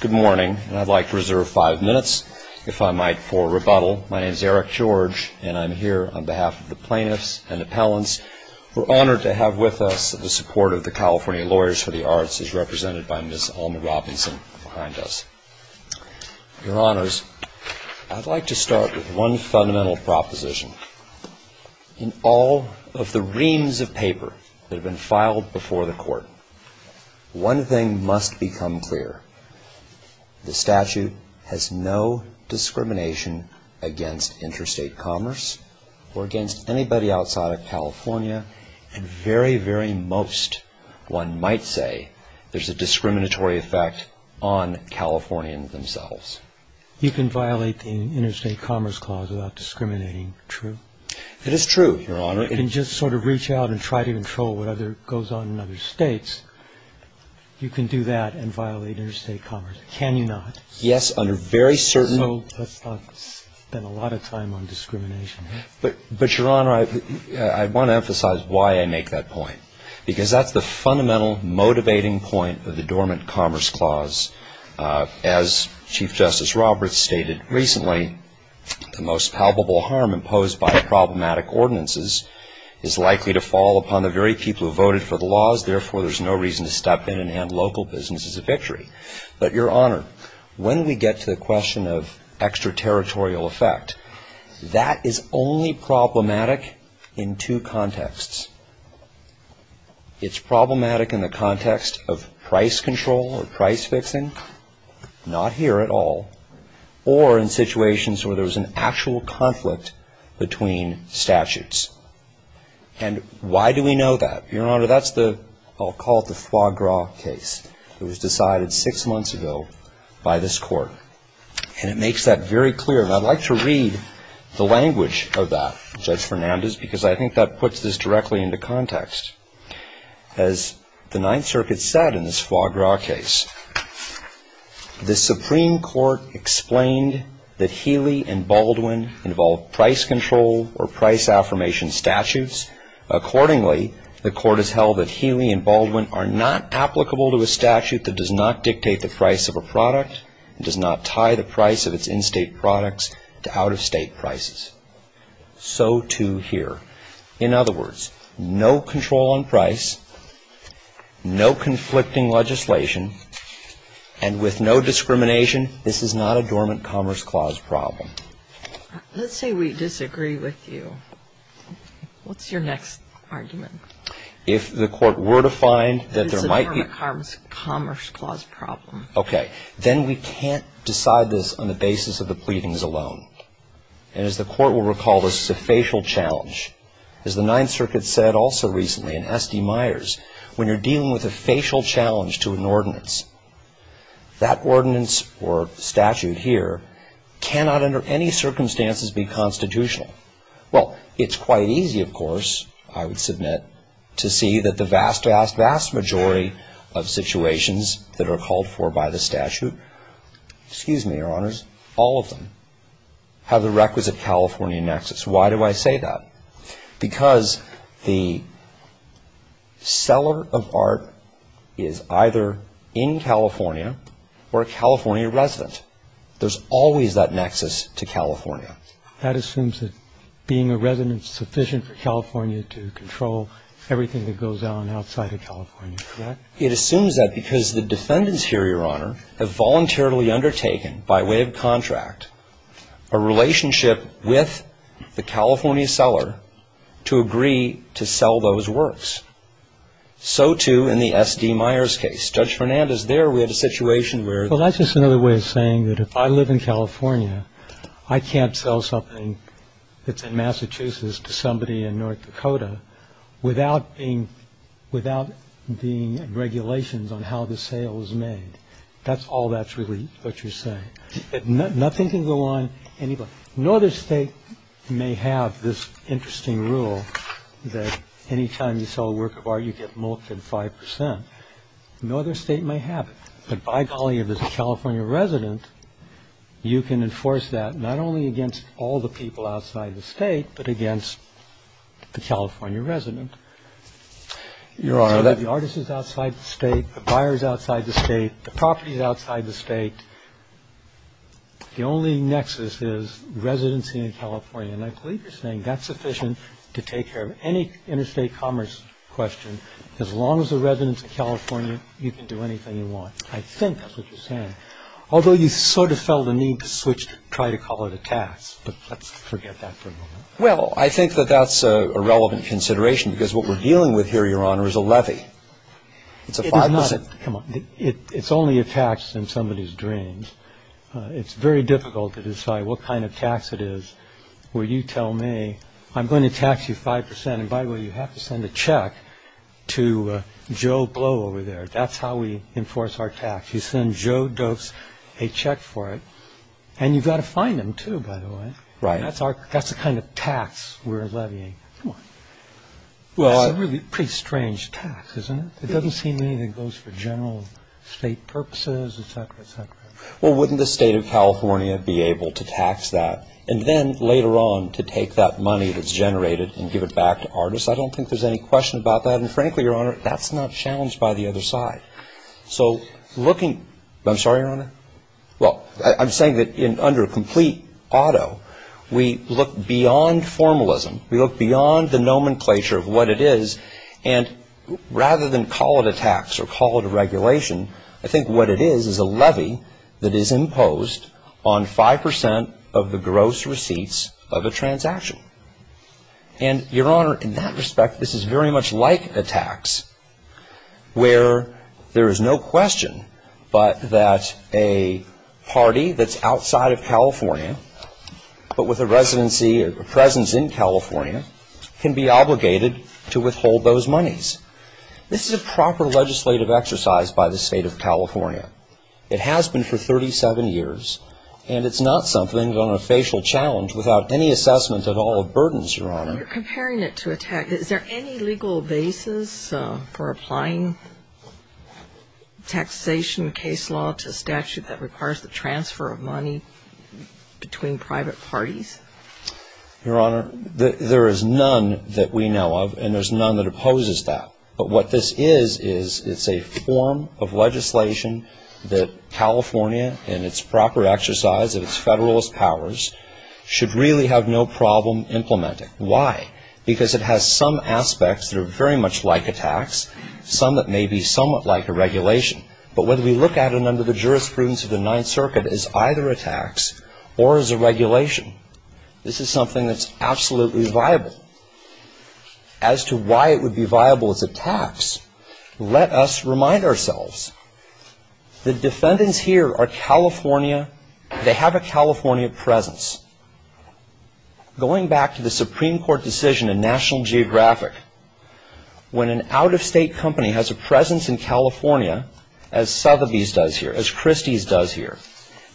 Good morning, and I'd like to reserve five minutes, if I might, for rebuttal. My name is Eric George, and I'm here on behalf of the plaintiffs and the appellants. We're honored to have with us the support of the California Lawyers for the Arts, as represented by Ms. Alma Robinson behind us. Your Honors, I'd like to start with one fundamental proposition. In all of the reams of paper that have been filed before the Court, one thing must become clear. The statute has no discrimination against interstate commerce or against anybody outside of California, and very, very most one might say there's a discriminatory effect on Californians themselves. You can violate the Interstate Commerce Clause without discriminating. True? It is true, Your Honor. You can just sort of reach out and try to control whatever goes on in other states. You can do that and violate interstate commerce. Can you not? Yes, under very certain So let's not spend a lot of time on discrimination. But Your Honor, I want to emphasize why I make that point, because that's the fundamental motivating point of the Dormant Commerce Clause. As Chief Justice Roberts stated recently, the most palpable harm imposed by problematic ordinances is likely to fall upon the very people who voted for the laws. Therefore, there's no reason to step in and end local business as a victory. But Your Honor, when we get to the question of extraterritorial effect, that is only problematic in two contexts. It's problematic in the context of price control or price fixing, not here at all, or in situations where there's an actual conflict between statutes. And why do we know that? Your Honor, that's the, I'll call it the foie gras case. It was decided six months ago by this Court. And it makes that very clear. And I'd like to read the language of that, Judge Fernandez, because I think that puts this directly into context. As the Ninth Circuit said in this foie gras case, the Supreme Court explained that Healy and Baldwin involve price control or price affirmation statutes. Accordingly, the Court has held that Healy and Baldwin are not applicable to a statute that does not dictate the price of a product, and does not tie the price of its in-state products to out-of-state prices. So too here. In other words, no control on price, no conflicting legislation, and with no discrimination, this is not a dormant commerce clause problem. Let's say we disagree with you. What's your next argument? If the Court were to find that there might be It's a dormant commerce clause problem. Okay. Then we can't decide this on the basis of the pleadings alone. And as the Court will As the Ninth Circuit said also recently in S.D. Myers, when you're dealing with a facial challenge to an ordinance, that ordinance or statute here cannot under any circumstances be constitutional. Well, it's quite easy, of course, I would submit, to see that the vast, vast, vast majority of situations that are called for by the statute, excuse me, Your Honors, all of them, have the requisite California nexus. Why do I say that? Because the seller of art is either in California or a California resident. There's always that nexus to California. That assumes that being a resident is sufficient for California to control everything that goes on outside of California, correct? It assumes that because the defendants here, Your Honor, have voluntarily undertaken by way of contract a relationship with the California seller to agree to sell those works. So too in the S.D. Myers case. Judge Fernandez, there we had a situation where Well, that's just another way of saying that if I live in California, I can't sell something that's in Massachusetts to somebody in North Dakota without being regulations on how the say. Nothing can go on anybody. No other state may have this interesting rule that any time you sell a work of art, you get mulched in five percent. No other state may have it. But by golly, if there's a California resident, you can enforce that not only against all the people outside the state, but against the California resident. Your Honor, that the artist is outside the state, the buyer is outside the state, the property is outside the state. The only nexus is residency in California. And I believe you're saying that's sufficient to take care of any interstate commerce question as long as the residents of California, you can do anything you want. I think that's what you're saying, although you sort of felt the need to switch to try to call it a tax. But let's forget that for a moment. Well, I think that that's a relevant consideration because what we're dealing with here, Your Honor, is a levy. It's a five percent. Come on. It's only a tax in somebody's dreams. It's very difficult to decide what kind of tax it is where you tell me, I'm going to tax you five percent. And by the way, you have to send a check to Joe Blow over there. That's how we enforce our tax. You send Joe Dose a check for it. And you've got to fine them too, by the way. Right. That's the kind of tax we're levying. That's a really pretty strange tax, isn't it? It doesn't seem to me that it goes for general state purposes, et cetera, et cetera. Well, wouldn't the state of California be able to tax that and then later on to take that money that's generated and give it back to artists? I don't think there's any question about that. And frankly, Your Honor, that's not challenged by the other side. So looking, I'm sorry, Your Honor. Well, I'm saying that under a complete auto, we look beyond formalism. We look beyond the nomenclature of what it is. And rather than call it a tax or call it a regulation, I think what it is is a levy that is imposed on five percent of the gross receipts of a transaction. And, Your Honor, in that respect, this is very much like a tax where there is no question but that a party that's outside of California but with a residency or presence in California can be obligated to withhold those monies. This is a proper legislative exercise by the state of California. It has been for 37 years. And it's not something on a facial challenge without any assessment at all of burdens, Your Honor. You're comparing it to a tax. Is there any legal basis for applying taxation case law to a statute that requires the transfer of money between private parties? Your Honor, there is none that we know of and there's none that opposes that. But what this is is it's a form of legislation that California in its proper exercise of its Federalist powers should really have no problem implementing. Why? Because it has some aspects that are very much like a tax, some that may be somewhat like a regulation. But when we look at it under the jurisprudence of the Ninth Circuit, it's either a tax or it's a regulation. This is something that's absolutely viable. As to why it would be viable as a tax, let us remind ourselves. The defendants here are California. They have a California presence. Going back to the Supreme Court decision in National Geographic, when an out-of-state company has a presence in California, as Sotheby's does here, as Christie's does here,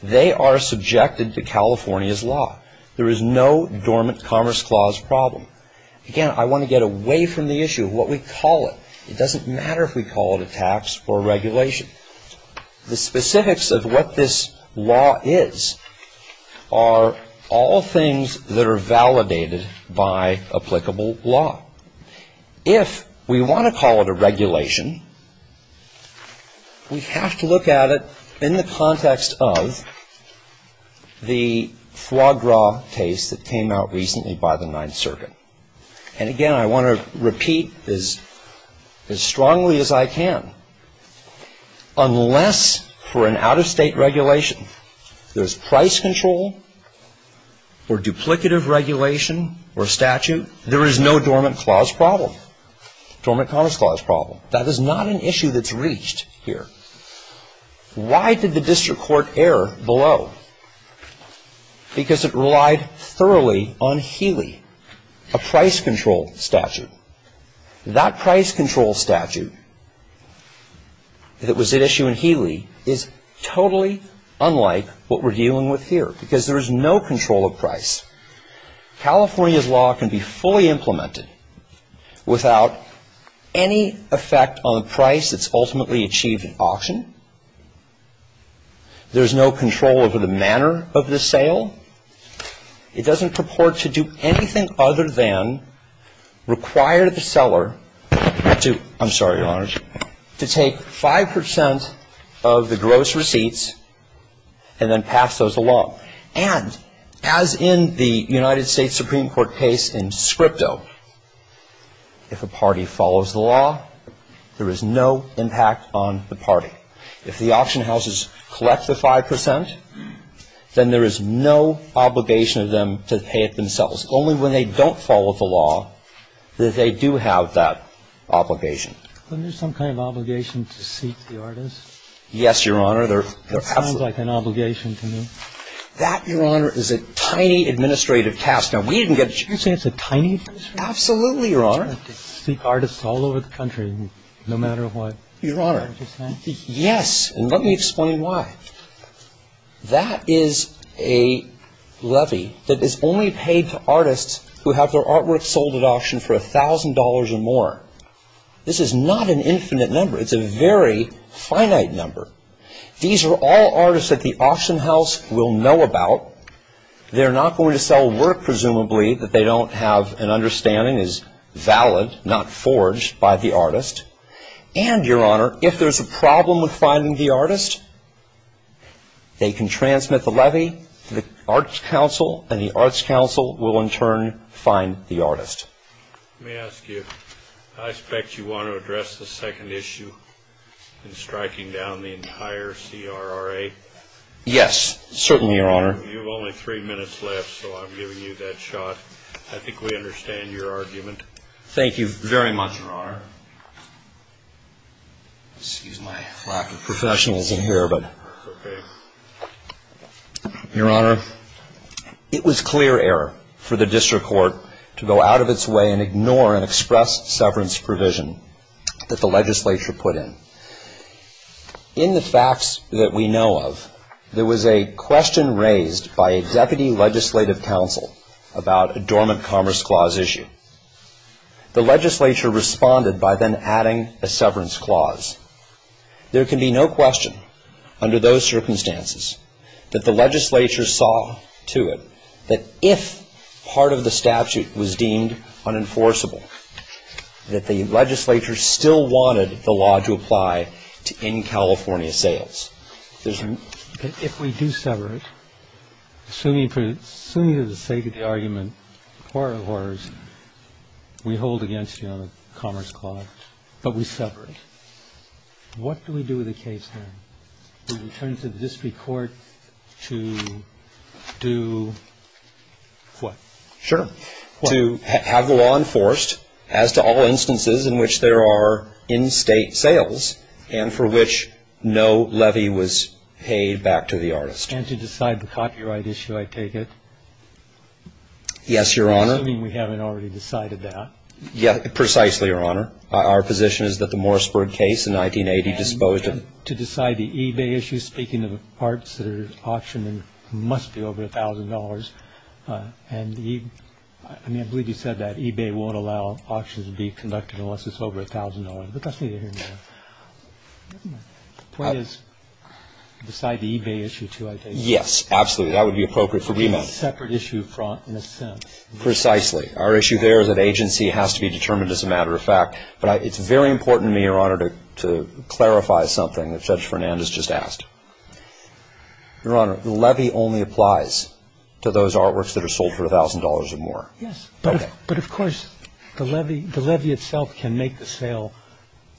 they are subjected to California's law. There is no dormant Commerce Clause problem. Again, I want to get away from the issue of what we call it. It doesn't matter if we call it a tax or a regulation. The specifics of what this law is are all things that are validated by applicable law. If we want to call it a regulation, we have to look at it in the context of the foie gras case that came out recently by the Ninth Circuit. And again, I want to repeat as strongly as I can. Unless for an out-of-state regulation, there's price control or duplicative regulation or statute, there is no dormant Commerce Clause problem. That is not an issue that's reached here. Why did the District Court err below? Because it relied thoroughly on Healy, a price control statute. That price control statute that was at issue in Healy is totally unlike what we're dealing with here because there is no control of price. California's law can be fully implemented without any effect on the price that's ultimately achieved at auction. There's no control over the manner of the sale. It doesn't purport to do anything other than require the seller to, I'm sorry, Your Honor, to take 5 percent of the gross receipts and then pass those along. And as in the United States Supreme Court case in Scripto, if a party follows the law, there is no impact on the party. If the auction houses collect the 5 percent, then there is no obligation of them to pay it themselves. Only when they don't follow the law do they do have that obligation. Isn't there some kind of obligation to seek the artists? Yes, Your Honor. There's absolutely no obligation to me. That, Your Honor, is a tiny administrative task. Now, we didn't get a chance to You're saying it's a tiny administrative task? Absolutely, Your Honor. To seek artists all over the country, no matter what. Your Honor, yes, and let me explain why. That is a levy that is only paid to artists who have their artwork sold at auction for $1,000 or more. This is not an infinite number. It's a very finite number. These are all artists that the auction house will know about. They're not going to sell work, presumably, that they don't have an understanding is valid, not If there's a problem with finding the artist, they can transmit the levy to the Arts Council and the Arts Council will, in turn, find the artist. Let me ask you. I expect you want to address the second issue in striking down the entire CRRA. Yes, certainly, Your Honor. You have only three minutes left, so I'm giving you that shot. I think we understand your argument. Thank you very much, Your Honor. Excuse my lack of professionalism here, but, Your Honor, it was clear error for the District Court to go out of its way and ignore an express severance provision that the legislature put in. In the facts that we know of, there was a question raised by a Deputy Legislative Counsel about a Dormant Commerce Clause issue. The legislature responded by then adding a severance clause. There can be no question, under those circumstances, that the legislature saw to it that if part of the statute was deemed unenforceable, that the legislature still wanted the law to apply to in-California sales. If we do sever it, assuming for the sake of the argument, we hold against you on the Commerce Clause, but we sever it, what do we do with the case, then, in terms of the District Court to do what? Sure. To have the law enforced as to all instances in which there are in-State sales and for which no levy was paid back to the artist. And to decide the copyright issue, I take it? Yes, Your Honor. Assuming we haven't already decided that. Precisely, Your Honor. Our position is that the Morseburg case in 1980 disposed of And to decide the eBay issue, speaking of parts that are auctioned and must be over $1,000, and the eBay, I mean, I believe you said that eBay won't allow auctions to be The point is, beside the eBay issue, too, I take it? Yes, absolutely. That would be appropriate for remand. It's a separate issue in a sense. Precisely. Our issue there is that agency has to be determined as a matter of fact. But it's very important to me, Your Honor, to clarify something that Judge Fernandez just asked. Your Honor, the levy only applies to those artworks that are sold for $1,000 or more. Yes. Okay. But of course, the levy itself can make the sale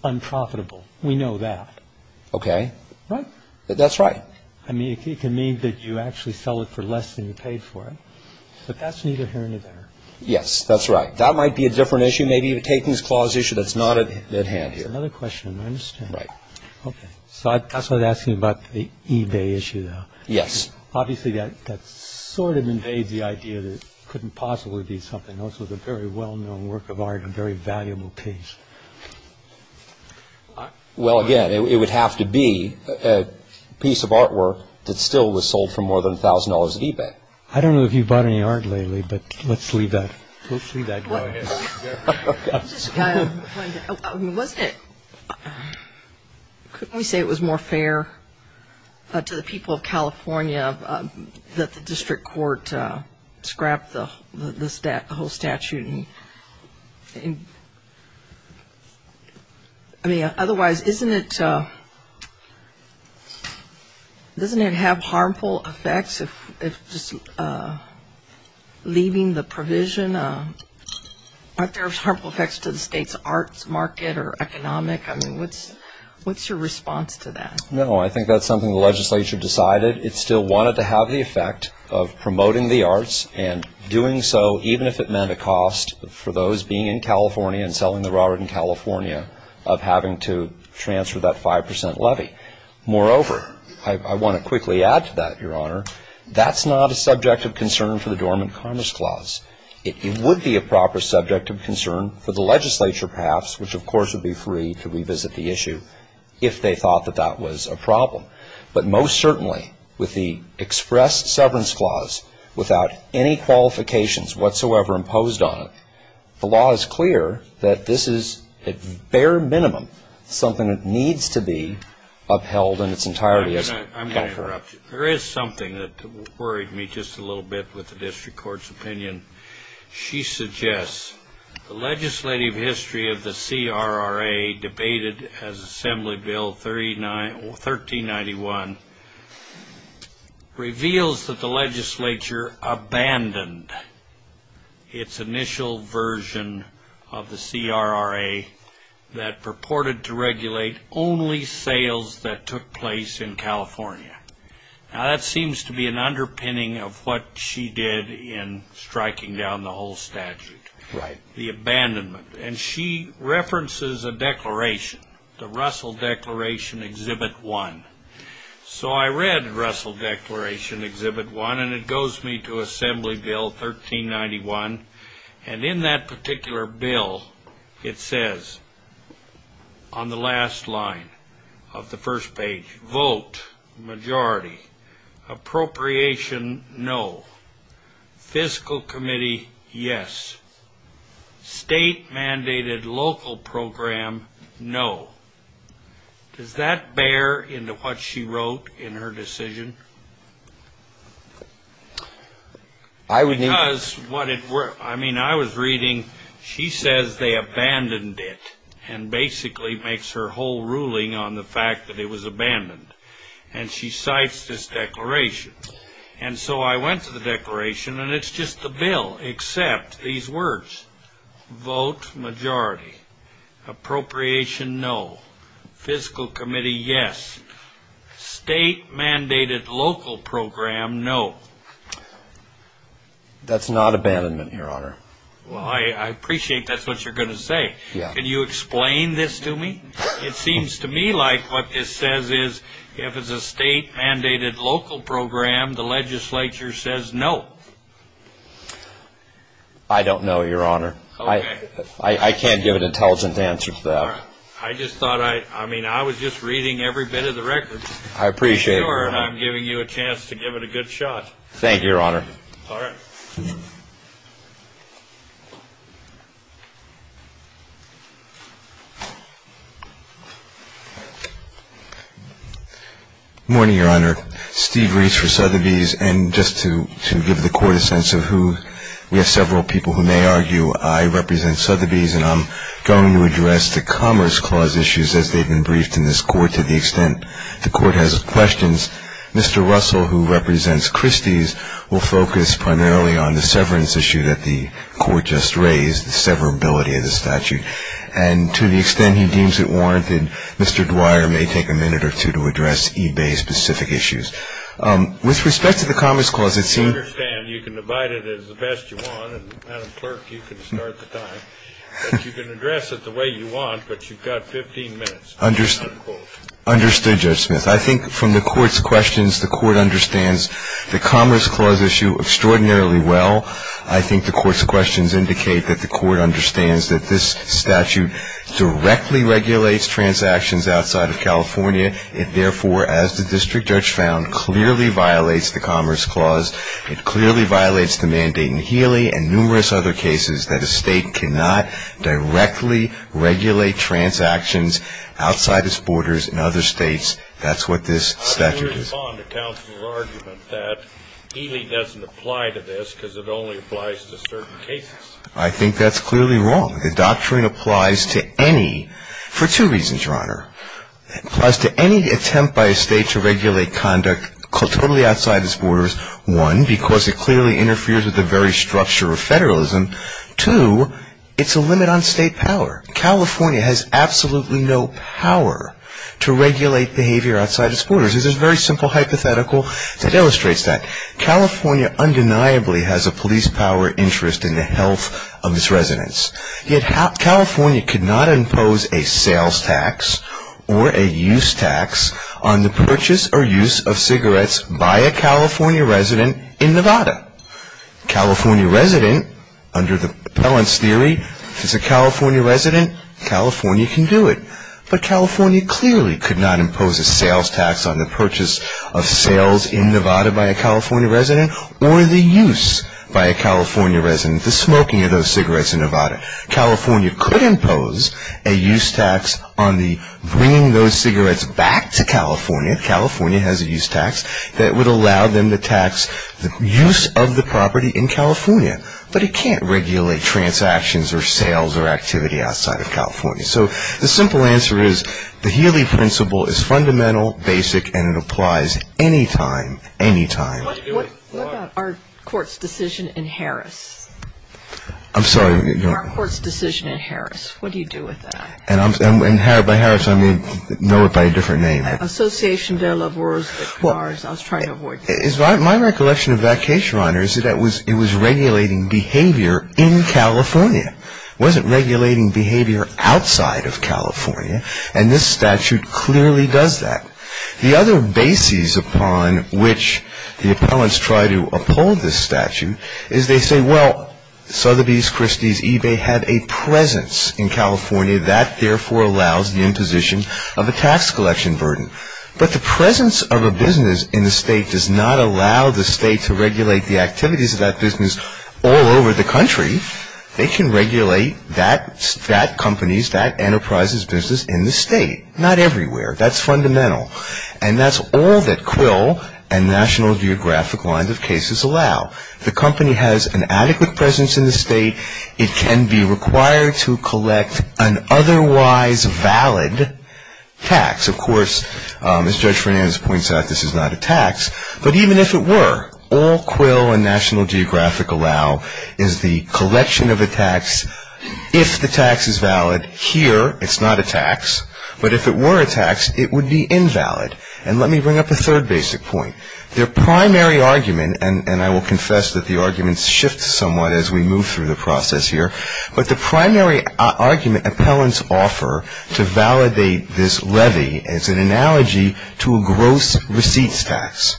unprofitable. We know that. Okay. Right? That's right. I mean, it can mean that you actually sell it for less than you paid for it. But that's neither here nor there. Yes, that's right. That might be a different issue. Maybe you're taking this clause issue that's not at hand here. That's another question. I understand. Right. Okay. So that's what I was asking about the eBay issue, though. Yes. Obviously, that sort of invades the idea that it couldn't possibly be something else with a very well-known work of art, a very valuable piece. Well, again, it would have to be a piece of artwork that still was sold for more than $1,000 at eBay. I don't know if you bought any art lately, but let's leave that. Let's leave that. Go ahead. Wasn't it – couldn't we say it was more fair to the people of California that the district court scrapped the whole statute? I mean, otherwise, isn't it – doesn't it have harmful effects if just leaving the provision? Aren't there harmful effects to the state's arts market or economic? I mean, what's your response to that? No, I think that's something the legislature decided. It still wanted to have the effect of promoting the arts and doing so even if it meant a cost for those being in California and selling their art in California of having to transfer that 5% levy. Moreover, I want to quickly add to that, Your Honor, that's not a subject of concern for the Dormant Commerce Clause. It would be a proper subject of concern for the legislature, perhaps, which, of course, would be free to revisit the issue if they thought that that was a problem. But most certainly, with the Express Severance Clause, without any qualifications whatsoever imposed on it, the law is clear that this is, at bare minimum, something that needs to be upheld in its entirety. I'm going to interrupt you. There is something that worried me just a little bit with the district court's opinion. She suggests the legislative history of the CRRA, debated as Assembly Bill 1391, reveals that the legislature abandoned its initial version of the CRRA that purported to regulate only sales that took place in California. Now, that seems to be an underpinning of what she did in striking down the whole statute. Right. The abandonment. And she references a declaration, the Russell Declaration, Exhibit 1. So I read Russell Declaration, Exhibit 1, and it goes me to Assembly Bill 1391. And in that particular bill, it says on the last line of the first page, vote, majority, appropriation, no, fiscal committee, yes, state mandated local program, no. Does that bear into what she wrote in her decision? Because what it were, I mean, I was reading, she says they abandoned it and basically makes her whole ruling on the fact that it was abandoned. And she cites this declaration. And so I went to the declaration, and it's just the bill, except these words, vote, majority, appropriation, no, fiscal committee, yes, state mandated local program, no. That's not abandonment, Your Honor. Well, I appreciate that's what you're going to say. Yeah. Can you explain this to me? It seems to me like what this says is if it's a state mandated local program, the legislature says no. I don't know, Your Honor. Okay. I can't give an intelligent answer to that. I just thought I, I mean, I was just reading every bit of the record. I appreciate it. And I'm giving you a chance to give it a good shot. Thank you, Your Honor. All right. Good morning, Your Honor. Steve Reese for Sotheby's. And just to give the Court a sense of who, we have several people who may argue I represent Sotheby's and I'm going to address the Commerce Clause issues as they've been briefed in this Court to the extent the Court has questions. Mr. Russell, who represents Christie's, will focus primarily on the severance issue that the Court just raised, the severability of the statute. And to the extent he deems it warranted, Mr. Dwyer may take a minute or two to address eBay-specific issues. With respect to the Commerce Clause, it seems- If you're not a clerk, you can start the time. But you can address it the way you want, but you've got 15 minutes. Understood, Judge Smith. I think from the Court's questions, the Court understands the Commerce Clause issue extraordinarily well. I think the Court's questions indicate that the Court understands that this statute directly regulates transactions outside of California. It, therefore, as the District Judge found, clearly violates the Commerce Clause. It clearly violates the mandate in Healy and numerous other cases that a state cannot directly regulate transactions outside its borders in other states. That's what this statute is. How do you respond to counsel's argument that Healy doesn't apply to this because it only applies to certain cases? I think that's clearly wrong. The doctrine applies to any- for two reasons, Your Honor. It applies to any attempt by a state to regulate conduct totally outside its borders. One, because it clearly interferes with the very structure of federalism. Two, it's a limit on state power. California has absolutely no power to regulate behavior outside its borders. There's this very simple hypothetical that illustrates that. California undeniably has a police power interest in the health of its residents. Yet California could not impose a sales tax or a use tax on the purchase or use of cigarettes by a California resident in Nevada. California resident, under the Appellant's theory, is a California resident. California can do it. But California clearly could not impose a sales tax on the purchase of sales in Nevada by a California resident or the use by a California resident, the smoking of those cigarettes in Nevada. California could impose a use tax on the bringing those cigarettes back to California. California has a use tax that would allow them to tax the use of the property in California. But it can't regulate transactions or sales or activity outside of California. So the simple answer is the Healy principle is fundamental, basic, and it applies anytime, anytime. What about our court's decision in Harris? I'm sorry. Our court's decision in Harris. What do you do with that? By Harris, I mean know it by a different name. Association de la Voz, I was trying to avoid that. My recollection of that case, Your Honor, is that it was regulating behavior in California. It wasn't regulating behavior outside of California. And this statute clearly does that. The other basis upon which the appellants try to uphold this statute is they say, well, Sotheby's, Christie's, eBay have a presence in California. That, therefore, allows the imposition of a tax collection burden. But the presence of a business in the state does not allow the state to regulate the activities of that business all over the country. They can regulate that company's, that enterprise's business in the state. Not everywhere. That's fundamental. And that's all that Quill and National Geographic lines of cases allow. The company has an adequate presence in the state. It can be required to collect an otherwise valid tax. Of course, as Judge Fernandez points out, this is not a tax. But even if it were, all Quill and National Geographic allow is the collection of a tax. If the tax is valid here, it's not a tax. But if it were a tax, it would be invalid. And let me bring up a third basic point. Their primary argument, and I will confess that the arguments shift somewhat as we move through the process here. But the primary argument appellants offer to validate this levy is an analogy to a gross receipts tax.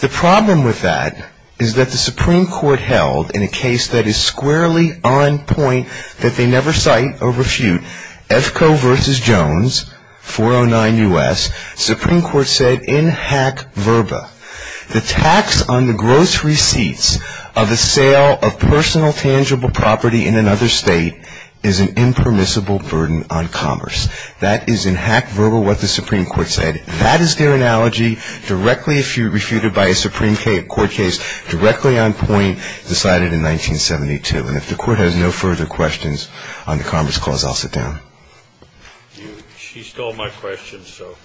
The problem with that is that the Supreme Court held in a case that is squarely on point that they never cite or refute, EFCO versus Jones, 409 U.S., Supreme Court said in hack verba, the tax on the gross receipts of a sale of personal tangible property in another state is an impermissible burden on commerce. That is in hack verba what the Supreme Court said. That is their analogy directly, if you refute it by a Supreme Court case, directly on point decided in 1972. And if the Court has no further questions on the Commerce Clause, I'll sit down. She stole my question, so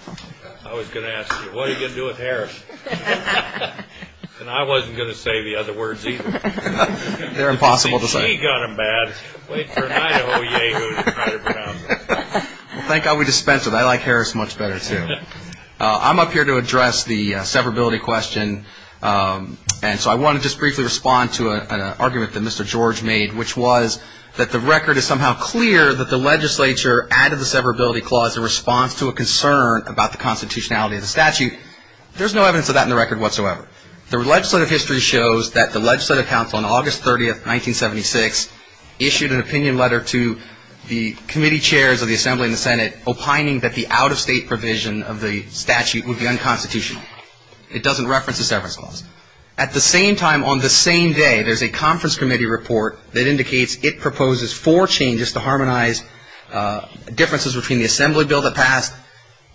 I was going to ask you, what are you going to do with Harris? And I wasn't going to say the other words either. They're impossible to say. She ain't got them bad. Wait for a night at Oyehue to try to pronounce them. Well, thank God we dispensed with it. I like Harris much better, too. I'm up here to address the severability question, and so I want to just briefly respond to an argument that Mr. George made, which was that the record is somehow clear that the legislature added the severability clause in response to a concern about the constitutionality of the statute. There's no evidence of that in the record whatsoever. The legislative history shows that the Legislative Council on August 30, 1976, issued an opinion letter to the committee chairs of the Assembly and the Senate, opining that the out-of-state provision of the statute would be unconstitutional. It doesn't reference the severance clause. At the same time, on the same day, there's a conference committee report that indicates it proposes four changes to harmonize differences between the Assembly Bill that passed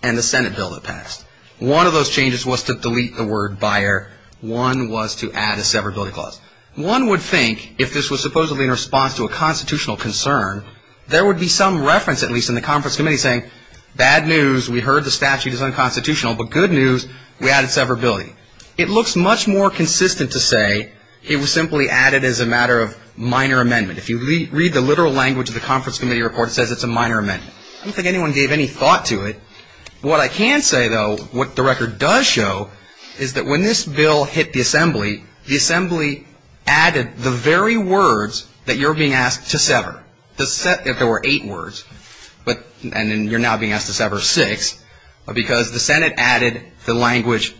and the Senate Bill that passed. One of those changes was to delete the word buyer. One was to add a severability clause. One would think, if this was supposedly in response to a constitutional concern, there would be some reference, at least in the conference committee, saying, bad news, we heard the statute is unconstitutional, but good news, we added severability. It looks much more consistent to say it was simply added as a matter of minor amendment. If you read the literal language of the conference committee report, it says it's a minor amendment. I don't think anyone gave any thought to it. What I can say, though, what the record does show is that when this bill hit the Assembly, the Assembly added the very words that you're being asked to sever. There were eight words, and then you're now being asked to sever six, because the Senate added the language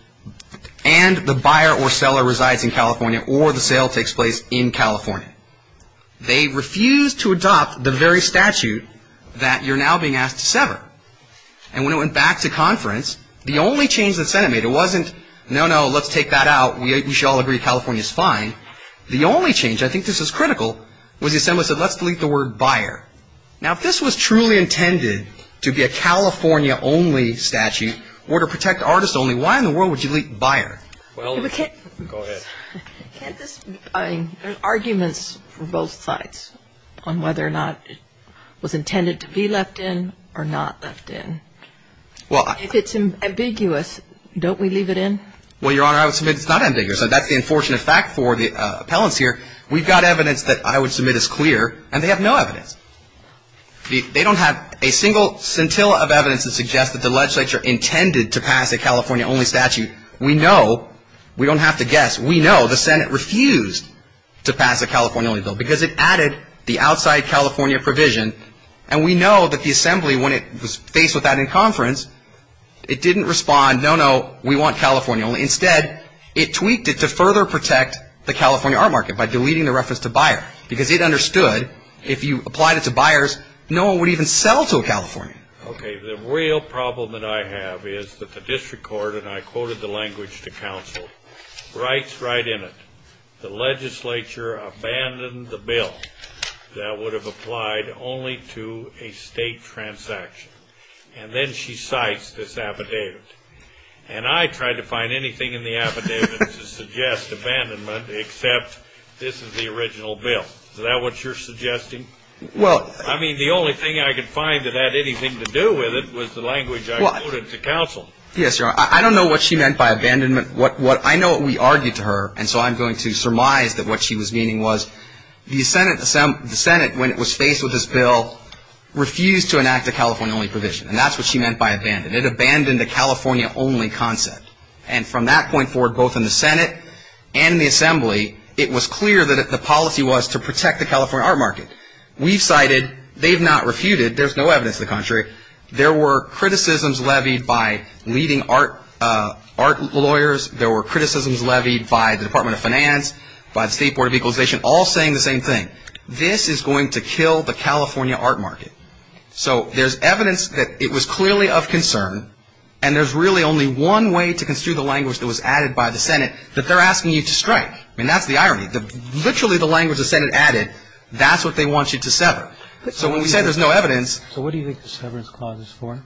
and the buyer or seller resides in California or the sale takes place in California. They refused to adopt the very statute that you're now being asked to sever. And when it went back to conference, the only change the Senate made, it wasn't, no, no, let's take that out. We should all agree California's fine. The only change, I think this is critical, was the Assembly said, let's delete the word buyer. Now, if this was truly intended to be a California-only statute or to protect artists only, why in the world would you delete buyer? Go ahead. There are arguments from both sides on whether or not it was intended to be left in or not left in. If it's ambiguous, don't we leave it in? Well, Your Honor, I would submit it's not ambiguous. That's the unfortunate fact for the appellants here. We've got evidence that I would submit is clear, and they have no evidence. They don't have a single scintilla of evidence to suggest that the legislature intended to pass a California-only statute. We know, we don't have to guess, we know the Senate refused to pass a California-only bill because it added the outside California provision, and we know that the Assembly, when it was faced with that in conference, it didn't respond, no, no, we want California only. Instead, it tweaked it to further protect the California art market by deleting the reference to buyer because it understood if you applied it to buyers, no one would even sell to a Californian. Okay, the real problem that I have is that the district court, and I quoted the language to counsel, writes right in it, the legislature abandoned the bill that would have applied only to a state transaction. And then she cites this affidavit. And I tried to find anything in the affidavit to suggest abandonment, except this is the original bill. Is that what you're suggesting? I mean, the only thing I could find that had anything to do with it was the language I quoted to counsel. Yes, Your Honor, I don't know what she meant by abandonment. I know what we argued to her, and so I'm going to surmise that what she was meaning was the Senate, when it was faced with this bill, refused to enact a California-only provision. And that's what she meant by abandon. It abandoned the California-only concept. And from that point forward, both in the Senate and the Assembly, it was clear that the policy was to protect the California art market. We've cited, they've not refuted, there's no evidence to the contrary, there were criticisms levied by leading art lawyers, there were criticisms levied by the Department of Finance, by the State Board of Equalization, all saying the same thing. This is going to kill the California art market. So there's evidence that it was clearly of concern, and there's really only one way to construe the language that was added by the Senate, that they're asking you to strike. I mean, that's the irony. Literally the language the Senate added, that's what they want you to sever. So when we say there's no evidence... So what do you think the severance clause is for?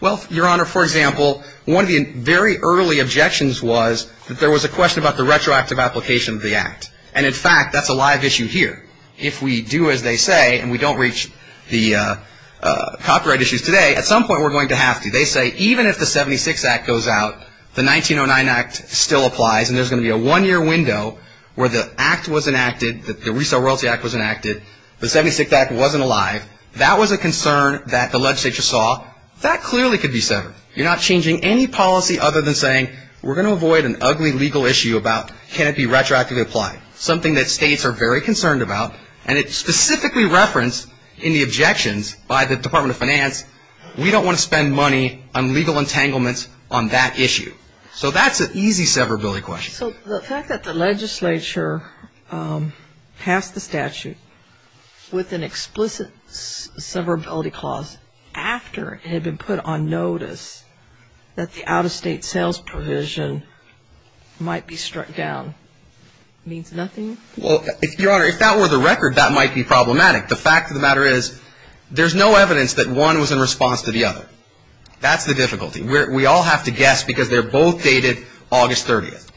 Well, Your Honor, for example, one of the very early objections was that there was a question about the retroactive application of the Act. And in fact, that's a live issue here. If we do as they say, and we don't reach the copyright issues today, at some point we're going to have to. They say even if the 76 Act goes out, the 1909 Act still applies, and there's going to be a one-year window where the Act was enacted, the Resell Royalty Act was enacted, the 76 Act wasn't alive. That was a concern that the legislature saw. That clearly could be severed. You're not changing any policy other than saying we're going to avoid an ugly legal issue about can it be retroactively applied. Something that states are very concerned about, and it's specifically referenced in the objections by the Department of Finance. We don't want to spend money on legal entanglements on that issue. So that's an easy severability question. So the fact that the legislature passed the statute with an explicit severability clause after it had been put on notice that the out-of-state sales provision might be struck down means nothing? Well, Your Honor, if that were the record, that might be problematic. The fact of the matter is there's no evidence that one was in response to the other. That's the difficulty. We all have to guess because they're both dated August 30th.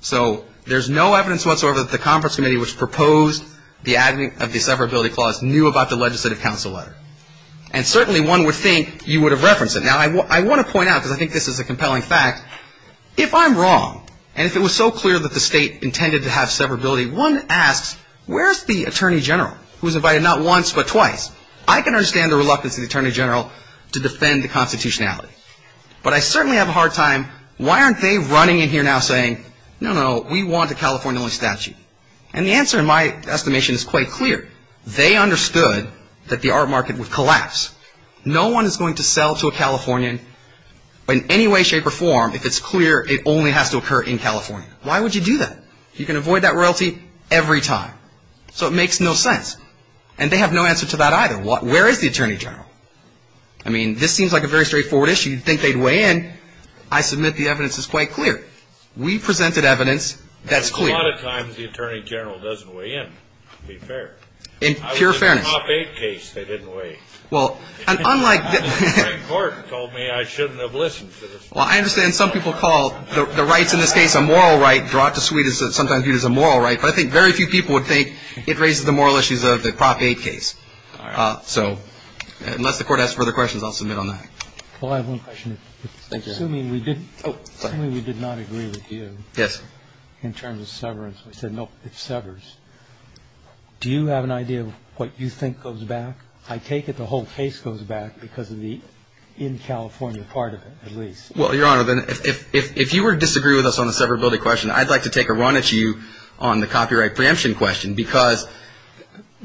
So there's no evidence whatsoever that the conference committee which proposed the adding of the severability clause knew about the legislative council letter. And certainly one would think you would have referenced it. Now I want to point out, because I think this is a compelling fact, if I'm wrong and if it was so clear that the state intended to have severability, one asks where's the Attorney General who was invited not once but twice? I can understand the reluctance of the Attorney General to defend the constitutionality. But I certainly have a hard time, why aren't they running in here now saying, no, no, we want a California-only statute? And the answer in my estimation is quite clear. They understood that the art market would collapse. No one is going to sell to a Californian in any way, shape, or form if it's clear it only has to occur in California. Why would you do that? You can avoid that royalty every time. So it makes no sense. And they have no answer to that either. Where is the Attorney General? I mean, this seems like a very straightforward issue. You'd think they'd weigh in. I submit the evidence is quite clear. We presented evidence that's clear. A lot of times the Attorney General doesn't weigh in, to be fair. In pure fairness. I was in a Prop 8 case. They didn't weigh in. Well, and unlike the... The Supreme Court told me I shouldn't have listened to the Supreme Court. Well, I understand some people call the rights in this case a moral right, brought to suit sometimes viewed as a moral right. But I think very few people would think it raises the moral issues of the Prop 8 case. So unless the Court has further questions, I'll submit on that. Well, I have one question. Assuming we did not agree with you... Yes. ...in terms of severance. We said, no, it severs. Do you have an idea of what you think goes back? I take it the whole case goes back because of the in-California part of it, at least. Well, Your Honor, if you were to disagree with us on the severability question, I'd like to take a run at you on the copyright preemption question. Because...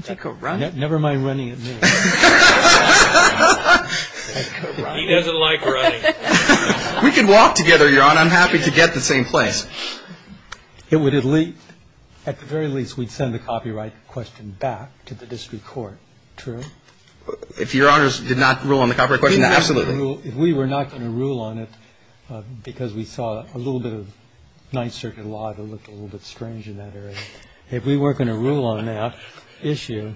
Take a run? Never mind running at me. He doesn't like running. We could walk together, Your Honor. I'm happy to get the same place. It would at least... At the very least, we'd send the copyright question back to the District Court. True? If Your Honors did not rule on the copyright question, absolutely. If we were not going to rule on it, because we saw a little bit of Ninth Circuit law that looked a little bit strange in that area. If we weren't going to rule on that issue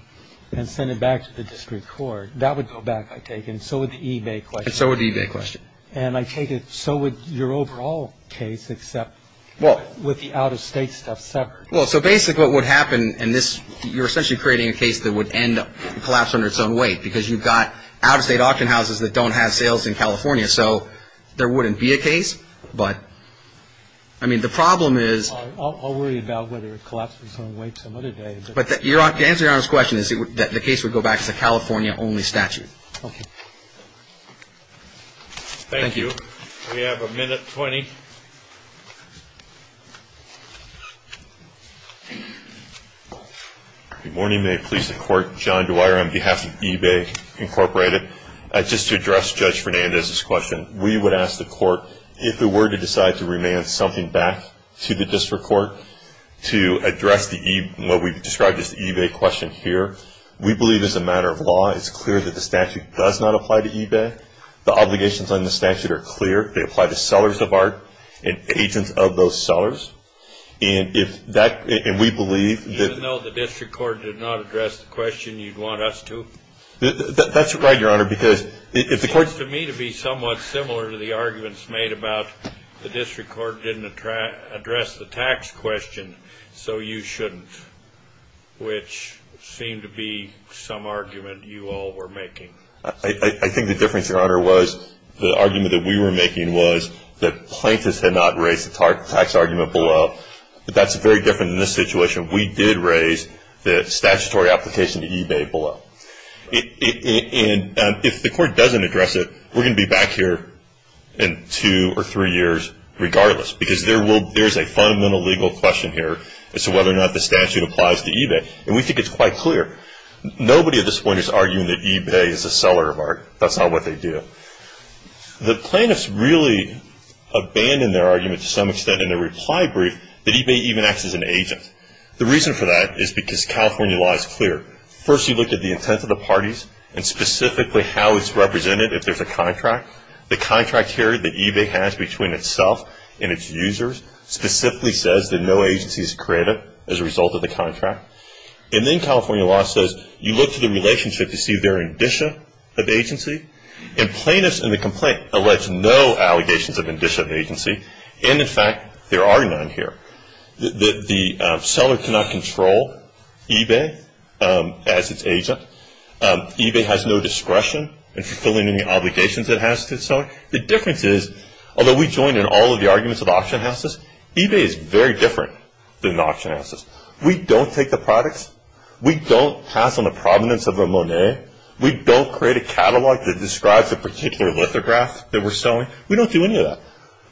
and send it back to the District Court, that would go back, I take it. And so would the eBay question. And so would the eBay question. And I take it, so would your overall case, except with the out-of-state stuff separate. Well, so basically what would happen in this, you're essentially creating a case that would end up collapsing under its own weight. Because you've got out-of-state auction houses that don't have sales in California. So there wouldn't be a case. But, I mean, the problem is... I'll worry about whether it collapses under its own weight some other day. But the answer to Your Honor's question is that the case would go back to the California-only statute. Okay. Thank you. We have a minute 20. Good morning. May it please the Court. John Dwyer on behalf of eBay Incorporated. Just to address Judge Fernandez's question, we would ask the Court, if it were to decide to remand something back to the District Court to address what we've described as the eBay question here, we believe as a matter of law, it's clear that the statute does not apply to eBay. The obligations on the statute are clear. They apply to sellers of art and agents of those sellers. And we believe that... Even though the District Court did not address the question, you'd want us to? That's right, Your Honor. It seems to me to be somewhat similar to the arguments made about the District Court didn't address the tax question, so you shouldn't. Which seemed to be some argument you all were making. I think the difference, Your Honor, was the argument that we were making was that plaintiffs had not raised the tax argument below. But that's very different in this situation. We did raise the statutory application to eBay below. And if the Court doesn't address it, we're going to be back here in two or three years regardless. Because there's a fundamental legal question here as to whether or not the statute applies to eBay. And we think it's quite clear. Nobody at this point is arguing that eBay is a seller of art. That's not what they do. The plaintiffs really abandoned their argument to some extent in their reply brief that eBay even acts as an agent. The reason for that is because California law is clear. First you look at the intent of the parties and specifically how it's represented if there's a contract. The contract here that eBay has between itself and its users specifically says that no agency is granted as a result of the contract. And then California law says you look to the relationship to see if there are indicia of agency. And plaintiffs in the complaint allege no allegations of indicia of agency. And in fact, there are none here. The seller cannot control eBay. As its agent. eBay has no discretion in fulfilling any obligations it has to its seller. The difference is, although we join in all of the arguments of auction houses, eBay is very different than auction houses. We don't take the products. We don't pass on the provenance of a Monet. We don't create a catalog that describes a particular lithograph that we're selling. We don't do any of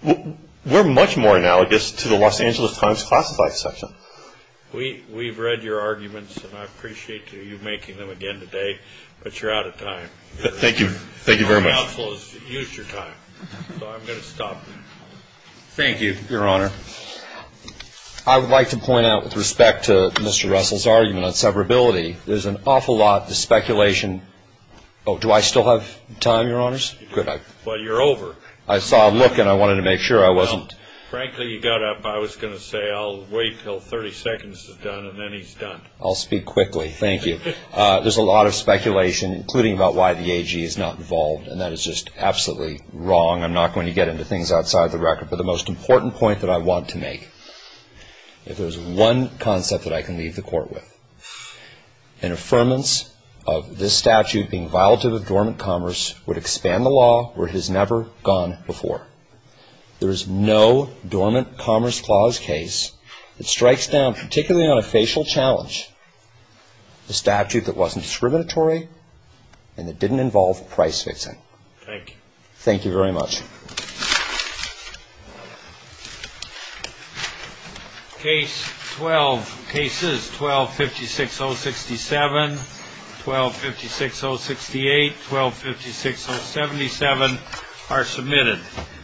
that. We're much more analogous to the Los Angeles Times classified section. We've read your arguments and I appreciate you making them again today. But you're out of time. Thank you. Thank you very much. Your counsel has used your time. So I'm going to stop now. Thank you, Your Honor. I would like to point out with respect to Mr. Russell's argument on severability there's an awful lot of speculation Oh, do I still have time, Your Honors? Well, you're over. I saw a look and I wanted to make sure I wasn't. Frankly, you got up. I was going to say I'll wait until 30 seconds is done and then he's done. I'll speak quickly. Thank you. There's a lot of speculation including about why the AG is not involved and that is just absolutely wrong. I'm not going to get into things outside the record. But the most important point that I want to make if there's one concept that I can leave the Court with an affirmance of this statute being violative of dormant commerce would expand the law where it has never gone before. There is no dormant commerce clause case that strikes down particularly on a facial challenge a statute that wasn't discriminatory and that didn't involve price fixing. Thank you. Thank you very much. Case 12. Cases 12-56-067 12-56-068 12-56-077 are submitted. Thank you.